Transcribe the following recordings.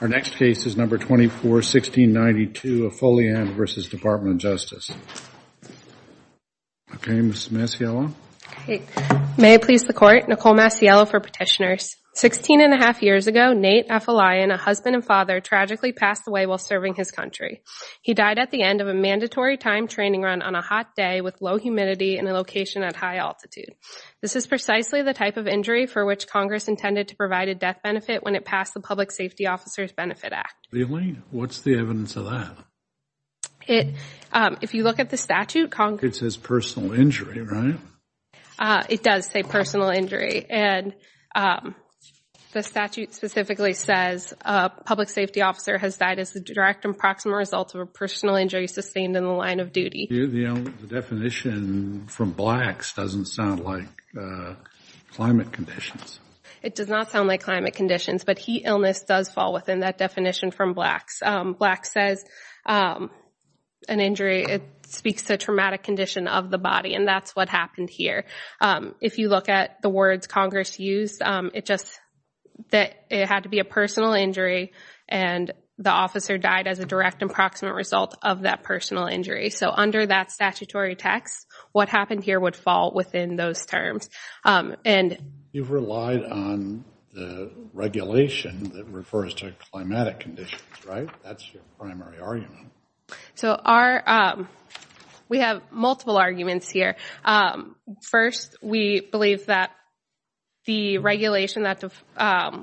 Our next case is No. 24, 1692, Afolayan v. Department of Justice. Okay, Ms. Macielo. May it please the Court, Nicole Macielo for Petitioners. Sixteen and a half years ago, Nate Afolayan, a husband and father, tragically passed away while serving his country. He died at the end of a mandatory time training run on a hot day with low humidity in a location at high altitude. This is precisely the type of injury for which Congress intended to provide a benefit when it passed the Public Safety Officers' Benefit Act. Really? What's the evidence of that? If you look at the statute, Congress— It says personal injury, right? It does say personal injury, and the statute specifically says a public safety officer has died as a direct and proximal result of a personal injury sustained in the line of You know, the definition from blacks doesn't sound like climate conditions. It does not sound like climate conditions, but heat illness does fall within that definition from blacks. Blacks says an injury speaks to a traumatic condition of the body, and that's what happened here. If you look at the words Congress used, it just—it had to be a personal injury, and the officer died as a direct and proximate result of that personal injury. So under that statutory text, what happened here would fall within those terms. You've relied on the regulation that refers to climatic conditions, right? That's your primary argument. So our—we have multiple arguments here. First, we believe that the regulation that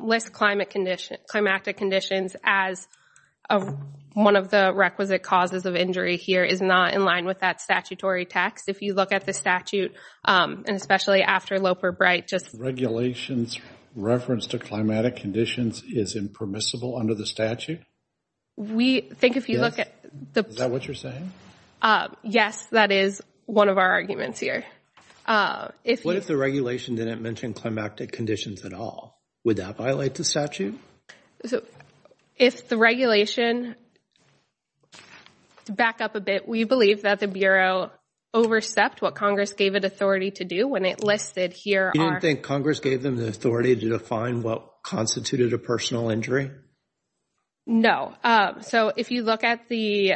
lists climatic conditions as one of the requisite causes of injury here is not in line with that statutory text. If you look at the statute, and especially after Loper-Bright, just— Regulations reference to climatic conditions is impermissible under the statute? We think if you look at the— Is that what you're saying? Yes, that is one of our arguments here. If you— What if the regulation didn't mention climatic conditions at all? Would that violate the statute? So if the regulation—to back up a bit, we believe that the Bureau overstepped what Congress gave it authority to do when it listed here— You didn't think Congress gave them the authority to define what constituted a personal injury? No. So if you look at the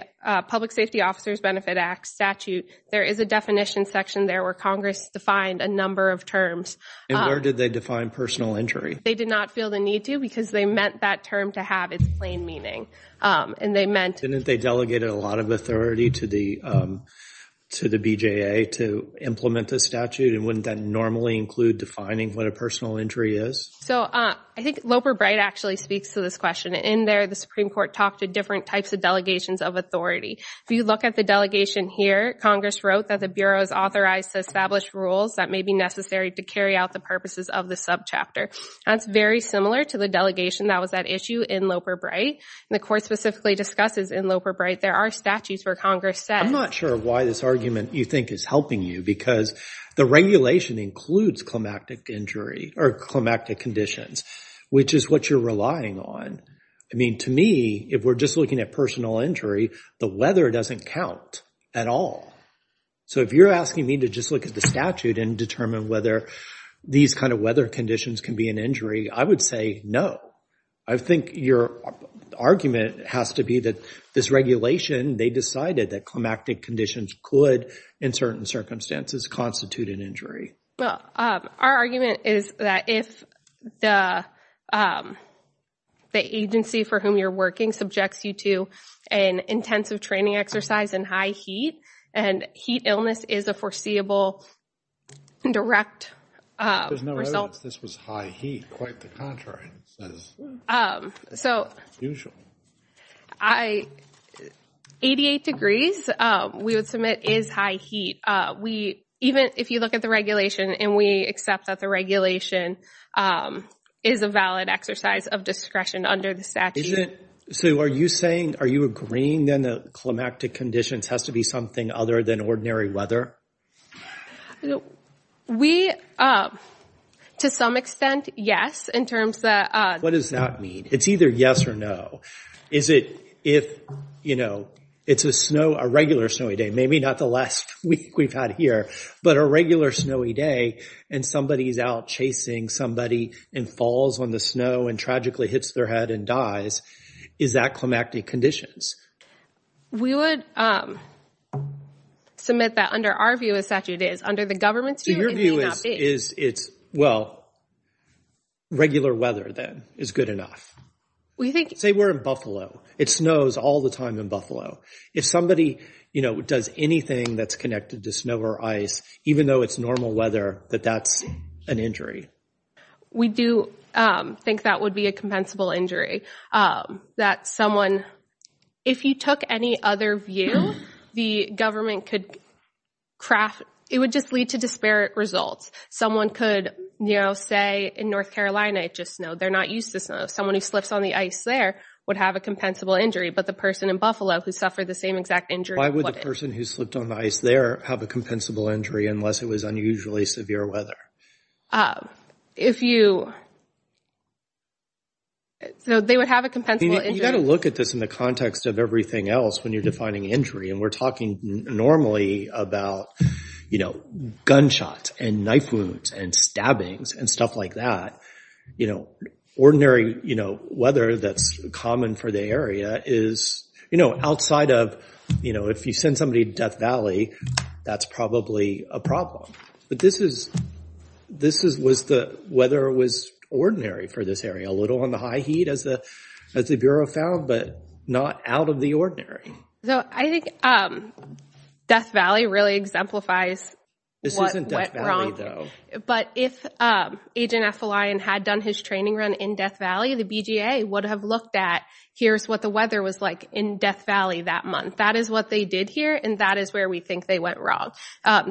Public Safety Officers Benefit Act statute, there is a definition section there where Congress defined a number of terms. And where did they define personal injury? They did not feel the need to because they meant that term to have its plain meaning. And they meant— Didn't they delegate a lot of authority to the BJA to implement the statute? And wouldn't that normally include defining what a personal injury is? So I think Loper-Bright actually speaks to this question. In there, the Supreme Court talked to different types of delegations of authority. If you look at the delegation here, Congress wrote that the Bureau is authorized to establish rules that may be necessary to carry out the purposes of the subchapter. That's very similar to the delegation that was at issue in Loper-Bright. The Court specifically discusses in Loper-Bright there are statutes where Congress says— I'm not sure why this argument you think is helping you because the regulation includes climactic injury or climactic conditions, which is what you're relying on. I mean, to me, if we're just looking at personal injury, the weather doesn't count at all. So if you're asking me to just look at the statute and determine whether these kind of weather conditions can be an injury, I would say no. I think your argument has to be that this regulation, they decided that climactic conditions could, in certain circumstances, constitute an injury. Well, our argument is that if the agency for whom you're working subjects you to an intensive training exercise in high heat, and heat illness is a foreseeable direct result— There's no evidence this was high heat. Quite the contrary. It says it's not unusual. So, 88 degrees, we would submit is high heat. Even if you look at the regulation and we accept that the regulation is a valid exercise of discretion under the statute— So are you saying, are you agreeing then that climactic conditions has to be something other than ordinary weather? We, to some extent, yes, in terms of— What does that mean? It's either yes or no. Is it if, you know, it's a snow, a regular snowy day, maybe not the last week we've had here, but a regular snowy day and somebody's out chasing somebody and falls on the snow and tragically hits their head and dies, is that climactic conditions? We would submit that under our view, as statute is, under the government's view, it may not be. So your view is it's, well, regular weather then is good enough? We think— Say we're in Buffalo. It snows all the time in Buffalo. If somebody, you know, does anything that's connected to snow or ice, even though it's normal weather, that that's an injury. We do think that would be a compensable injury, that someone, if you took any other view, the government could craft—it would just lead to disparate results. Someone could, you know, say in North Carolina, it's just snow. They're not used to snow. Someone who slips on the ice there would have a compensable injury, but the person in Buffalo who suffered the same exact injury wouldn't. Why would the person who slipped on the ice there have a compensable injury unless it was unusually severe weather? If you—so they would have a compensable injury— You've got to look at this in the context of everything else when you're defining injury, and we're talking normally about, you know, gunshots and knife wounds and stabbings and stuff like that. You know, ordinary, you know, weather that's common for the area is, you know, outside of, you know, if you send somebody to Death Valley, that's probably a problem. But this is—this was the weather was ordinary for this area. A little on the high heat, as the Bureau found, but not out of the ordinary. So, I think Death Valley really exemplifies what went wrong. But if Agent Effeline had done his training run in Death Valley, the BGA would have looked at, here's what the weather was like in Death Valley that month. That is what they did here, and that is where we think they went wrong.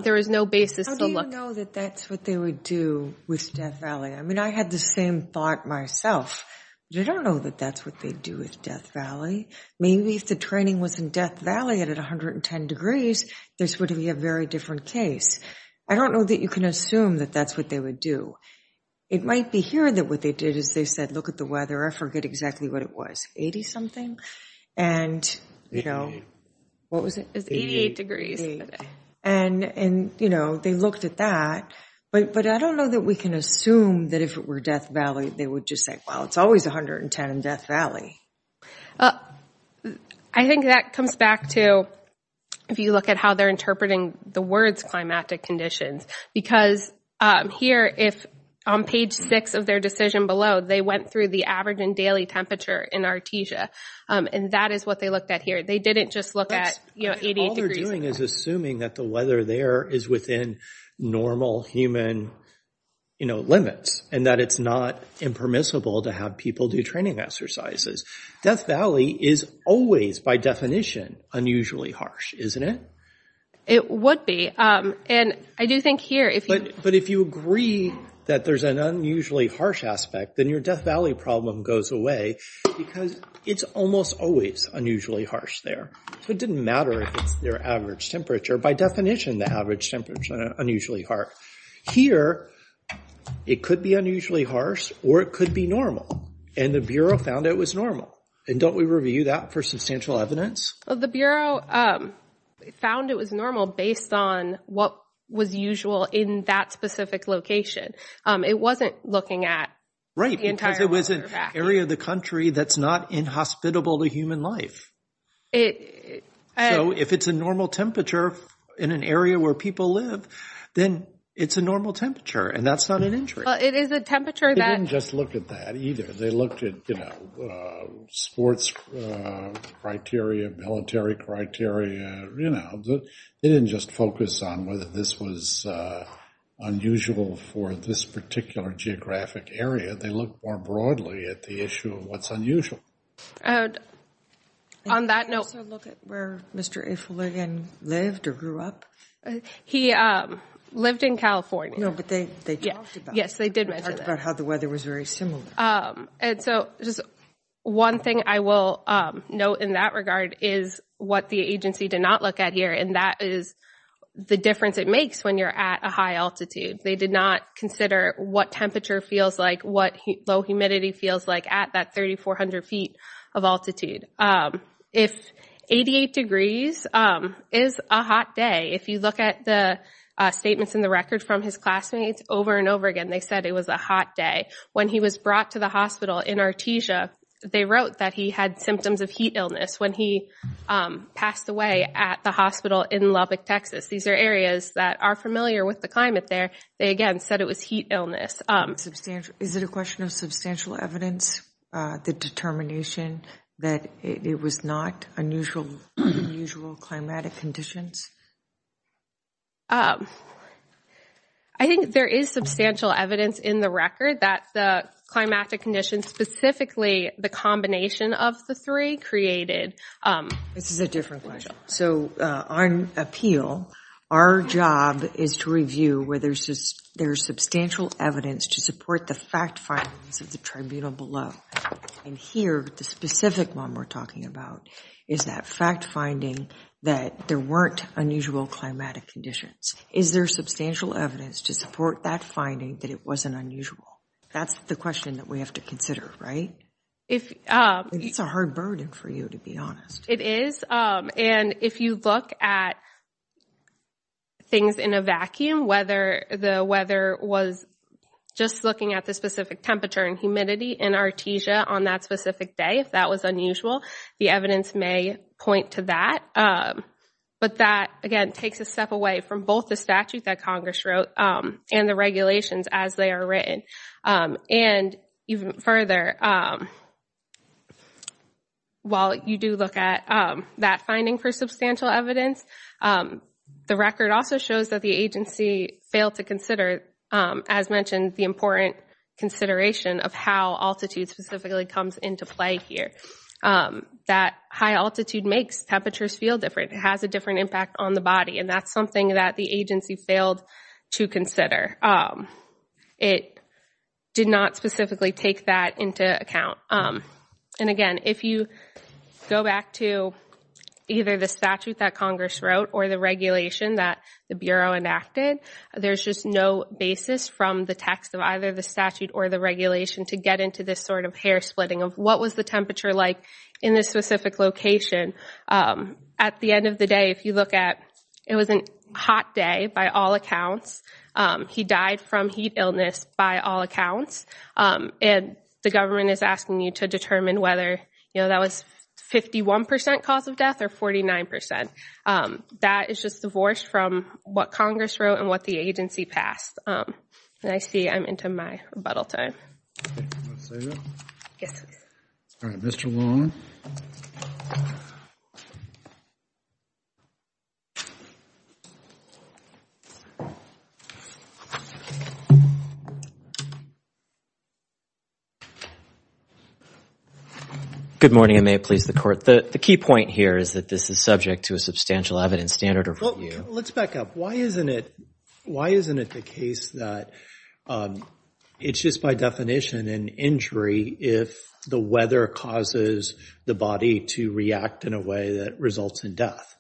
There is no basis to look— How do you know that that's what they would do with Death Valley? I mean, I had the same thought myself, but I don't know that that's what they'd do with Death Valley. Maybe if the training was in Death Valley and at 110 degrees, this would be a very different case. I don't know that you can assume that that's what they would do. It might be here that what they did is they said, look at the weather, I forget exactly what it was, 80-something? 88. 88. What was it? 88 degrees. And, you know, they looked at that, but I don't know that we can assume that if it were Death Valley, they would just say, well, it's always 110 in Death Valley. I think that comes back to, if you look at how they're interpreting the words climatic conditions, because here, if on page 6 of their decision below, they went through the average and daily temperature in Artesia, and that is what they looked at here. They didn't just look at, you know, 88 degrees. All they're doing is assuming that the weather there is within normal human, you know, limits, and that it's not impermissible to have people do training exercises. Death Valley is always, by definition, unusually harsh, isn't it? It would be, and I do think here, if you... But if you agree that there's an unusually harsh aspect, then your Death Valley problem goes away, because it's almost always unusually harsh there. So it didn't matter if it's their average temperature. By definition, the average temperature is unusually harsh. Here, it could be unusually harsh, or it could be normal, and the Bureau found it was normal. And don't we review that for substantial evidence? Well, the Bureau found it was normal based on what was usual in that specific location. It wasn't looking at the entire... Right, because it was an area of the country that's not inhospitable to human life. If it's a normal temperature in an area where people live, then it's a normal temperature, and that's not an injury. Well, it is a temperature that... They didn't just look at that either. They looked at sports criteria, military criteria. They didn't just focus on whether this was unusual for this particular geographic area. They looked more broadly at the issue of what's unusual. On that note... Did they also look at where Mr. A. Fuligan lived or grew up? He lived in California. No, but they talked about it. Yes, they did. They talked about how the weather was very similar. And so just one thing I will note in that regard is what the agency did not look at here, and that is the difference it makes when you're at a high altitude. They did not consider what temperature feels like, what low humidity feels like at that 3,400 feet of altitude. If 88 degrees is a hot day, if you look at the statements in the record from his classmates over and over again, they said it was a hot day. When he was brought to the hospital in Artesia, they wrote that he had symptoms of heat illness when he passed away at the hospital in Lubbock, Texas. These are areas that are familiar with the climate there. They again said it was heat illness. Is it a question of substantial evidence, the determination that it was not unusual climatic conditions? I think there is substantial evidence in the record that the climatic conditions, specifically the combination of the three, created. This is a different question. So on appeal, our job is to review whether there's substantial evidence to support the fact findings of the tribunal below. And here, the specific one we're talking about is that fact finding that there weren't unusual climatic conditions. Is there substantial evidence to support that finding that it wasn't unusual? That's the question that we have to consider, right? It's a hard burden for you, to be honest. It is. And if you look at things in a vacuum, whether the weather was just looking at the specific temperature and humidity in Artesia on that specific day, if that was unusual, the evidence may point to that. But that, again, takes a step away from both the statute that Congress wrote and the regulations as they are written. And even further, while you do look at that finding for substantial evidence, the record also shows that the agency failed to consider, as mentioned, the important consideration of how altitude specifically comes into play here. That high altitude makes temperatures feel different. It has a different impact on the body. And that's something that the agency failed to consider. It did not specifically take that into account. And again, if you go back to either the statute that Congress wrote or the regulation that the Bureau enacted, there's just no basis from the text of either the statute or the regulation to get into this sort of hair splitting of what was the temperature like in this specific location. At the end of the day, if you look at, it was a hot day by all accounts. He died from heat illness by all accounts. And the government is asking you to determine whether that was 51 percent cause of death or 49 percent. That is just divorced from what Congress wrote and what the agency passed. And I see I'm into my rebuttal time. All right, Mr. Long. Good morning, and may it please the court. The key point here is that this is subject to a substantial evidence standard review. Let's back up. Why isn't it the case that it's just by definition an injury if the weather causes the body to react in a way that results in death?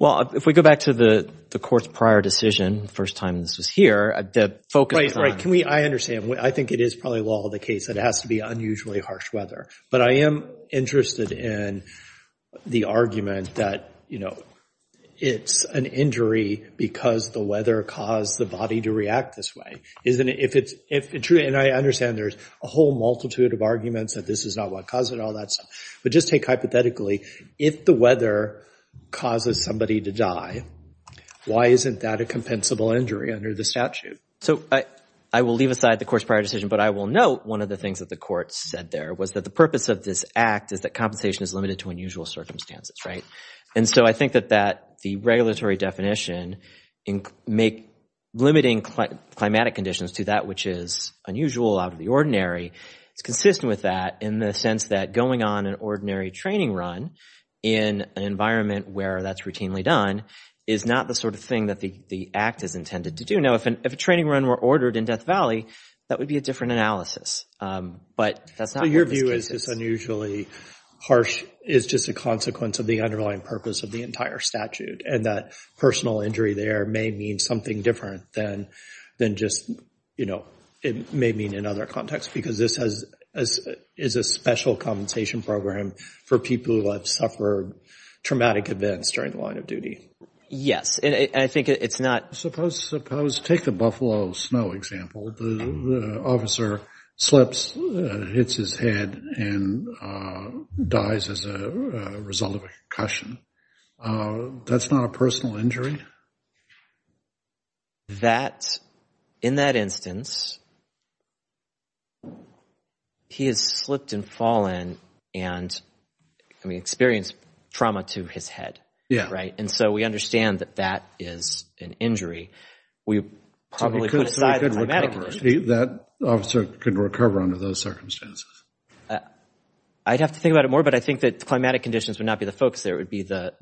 Well, if we go back to the court's prior decision, the first time this was here, the focus on I understand. I think it is probably law of the case that it has to be unusually harsh weather. But I am interested in the argument that it's an injury because the weather caused the body to react this way. And I understand there's a whole multitude of arguments that this is not what caused it, all that stuff. But just take hypothetically, if the weather causes somebody to die, why isn't that a compensable injury under the statute? So, I will leave aside the court's prior decision. But I will note one of the things that the court said there was that the purpose of this act is that compensation is limited to unusual circumstances, right? And so I think that the regulatory definition in limiting climatic conditions to that which is unusual out of the ordinary, it's consistent with that in the sense that going on an ordinary training run in an environment where that's routinely done is not the sort of thing that the act is intended to do. If a training run were ordered in Death Valley, that would be a different analysis. But that's not what this case is. So, your view is this unusually harsh is just a consequence of the underlying purpose of the entire statute and that personal injury there may mean something different than just, you know, it may mean in other contexts because this is a special compensation program for people who have suffered traumatic events during the line of duty. Yes. And I think it's not... Suppose, suppose, take the Buffalo Snow example, the officer slips, hits his head and dies as a result of a concussion. That's not a personal injury? That, in that instance, he has slipped and fallen and, I mean, experienced trauma to his head, right? And so, we understand that that is an injury. We probably could... So, we could recover. That officer could recover under those circumstances. I'd have to think about it more, but I think that the climatic conditions would not be the focus there. It would be the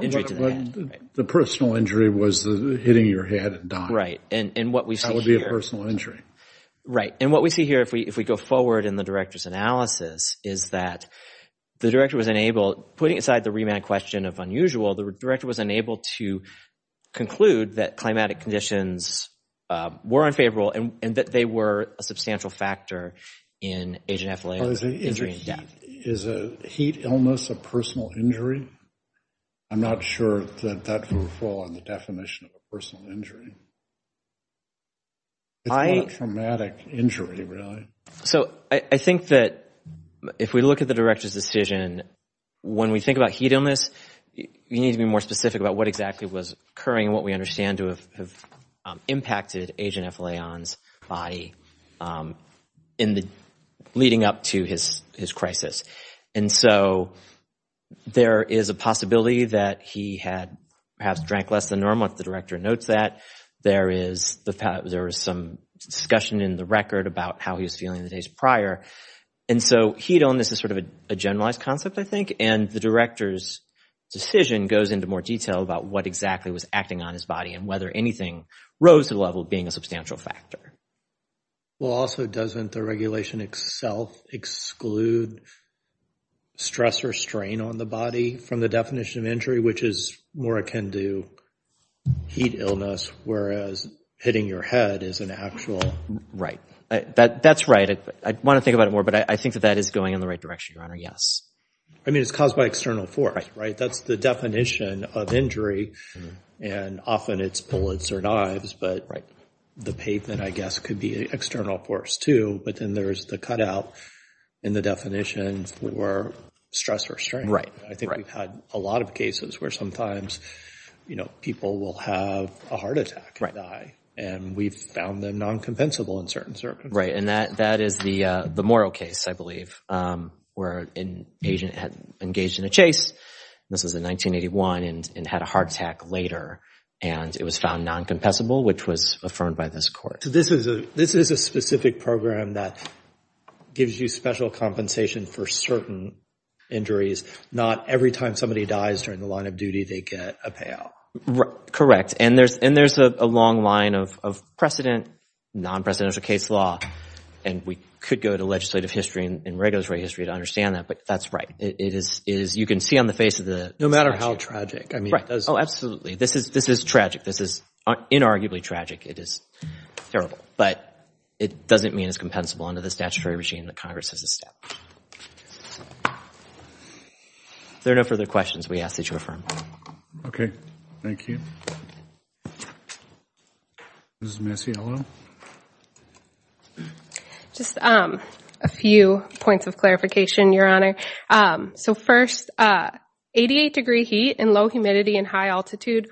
injury to the head. The personal injury was hitting your head and dying. Right. And what we see here... That would be a personal injury. Right. And what we see here if we go forward in the director's analysis is that the director was unable... Putting aside the remand question of unusual, the director was unable to conclude that climatic conditions were unfavorable and that they were a substantial factor in agent athletic injury and death. Is a heat illness a personal injury? I'm not sure that that would fall on the definition of a personal injury. It's not a traumatic injury, really. So, I think that if we look at the director's decision, when we think about heat illness, you need to be more specific about what exactly was occurring and what we understand to have impacted agent F. Leon's body leading up to his crisis. And so, there is a possibility that he had perhaps drank less than normal, if the director notes that. There is some discussion in the record about how he was feeling the days prior. And so, heat illness is sort of a generalized concept, I think, and the director's decision goes into more detail about what exactly was acting on his body and whether anything rose to the level of being a substantial factor. Well, also, doesn't the regulation itself exclude stress or strain on the body from the definition of injury, which is more akin to heat illness, whereas hitting your head is an actual? Right. That's right. I want to think about it more, but I think that that is going in the right direction, Your Honor. Yes. I mean, it's caused by external force, right? That's the definition of injury, and often it's bullets or knives, but the pavement, I guess, could be an external force, too. But then there's the cutout in the definition for stress or strain. Right. I think we've had a lot of cases where sometimes people will have a heart attack and die, and we've found them non-compensable in certain circumstances. Right. And that is the Morrow case, I believe, where an agent had engaged in a chase. This was in 1981 and had a heart attack later, and it was found non-compensable, which was affirmed by this court. So this is a specific program that gives you special compensation for certain injuries, not every time somebody dies during the line of duty, they get a payout. Correct. And there's a long line of precedent, non-presidential case law, and we could go to legislative history and regulatory history to understand that, but that's right. You can see on the face of the statute. No matter how tragic. Right. Oh, absolutely. This is tragic. This is inarguably tragic. It is terrible, but it doesn't mean it's compensable under the statutory regime that Congress has established. If there are no further questions, we ask that you affirm. Okay. Thank you. This is Miss Yellow. Just a few points of clarification, Your Honor. So first, 88 degree heat and low humidity and high altitude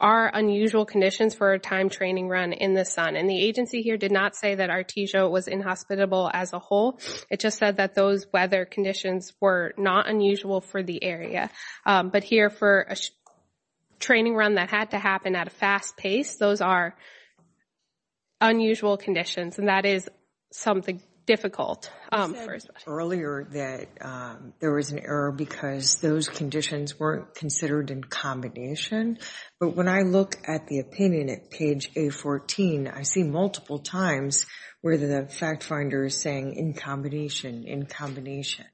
are unusual conditions for a time training run in the sun, and the agency here did not say that Artesia was inhospitable as a whole. It just said that those weather conditions were not unusual for the area. But here, for a training run that had to happen at a fast pace, those are unusual conditions, and that is something difficult. You said earlier that there was an error because those conditions weren't considered in combination, but when I look at the opinion at page A14, I see multiple times where the fact finder is saying in combination, in combination.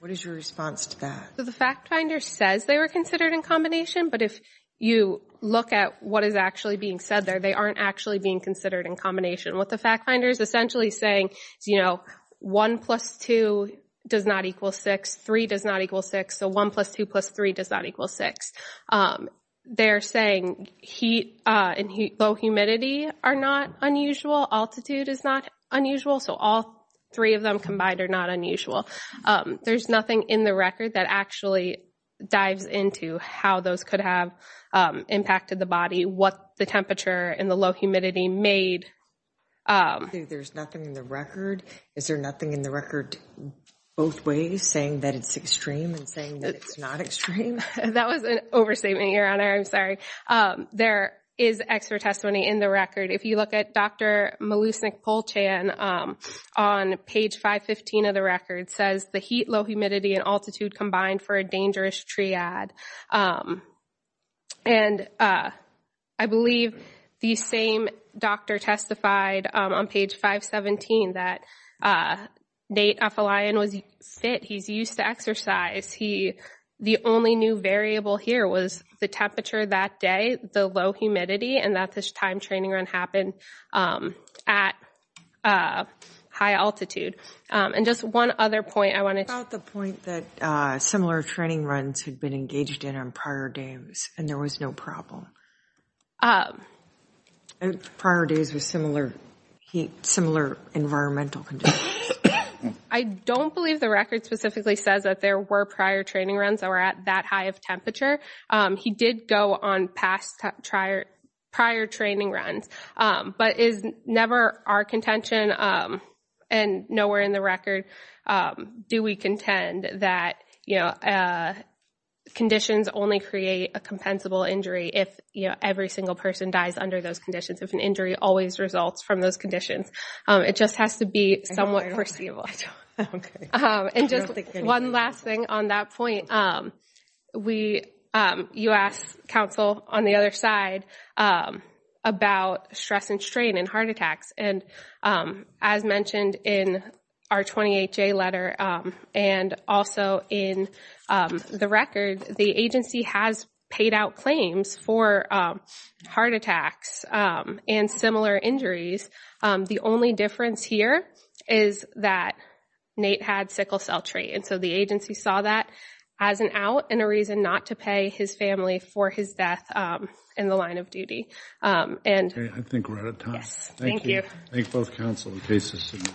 What is your response to that? So the fact finder says they were considered in combination, but if you look at what is actually being said there, they aren't actually being considered in combination. What the fact finder is essentially saying is, you know, 1 plus 2 does not equal 6, 3 does not equal 6. So 1 plus 2 plus 3 does not equal 6. They're saying heat and low humidity are not unusual, altitude is not unusual, so all three of them combined are not unusual. There's nothing in the record that actually dives into how those could have impacted the body, what the temperature and the low humidity made. There's nothing in the record, is there nothing in the record both ways, saying that it's extreme and saying that it's not extreme? That was an overstatement, Your Honor, I'm sorry. There is extra testimony in the record. If you look at Dr. Malusnik-Polchan on page 515 of the record, says the heat, low humidity and altitude combined for a dangerous triad. And I believe the same doctor testified on page 517 that Nate Afalayan was fit, he's used to exercise, the only new variable here was the temperature that day, the low humidity and that this time training run happened at high altitude. And just one other point I wanted to... About the point that similar training runs had been engaged in on prior days and there was no problem. Prior days with similar heat, similar environmental conditions. I don't believe the record specifically says that there were prior training runs that were at that high of temperature. He did go on past prior training runs, but is never our contention and nowhere in the record do we contend that conditions only create a compensable injury if every single person dies under those conditions, if an injury always results from those conditions. It just has to be somewhat perceivable. And just one last thing on that point, you asked counsel on the other side about stress and strain and heart attacks and as mentioned in our 28-J letter and also in the record, the agency has paid out claims for heart attacks and similar injuries. The only difference here is that Nate had sickle cell trait and so the agency saw that as an out and a reason not to pay his family for his death in the line of duty. And I think we're out of time. Thank you. Thank you. Thank both counsel and case assistant.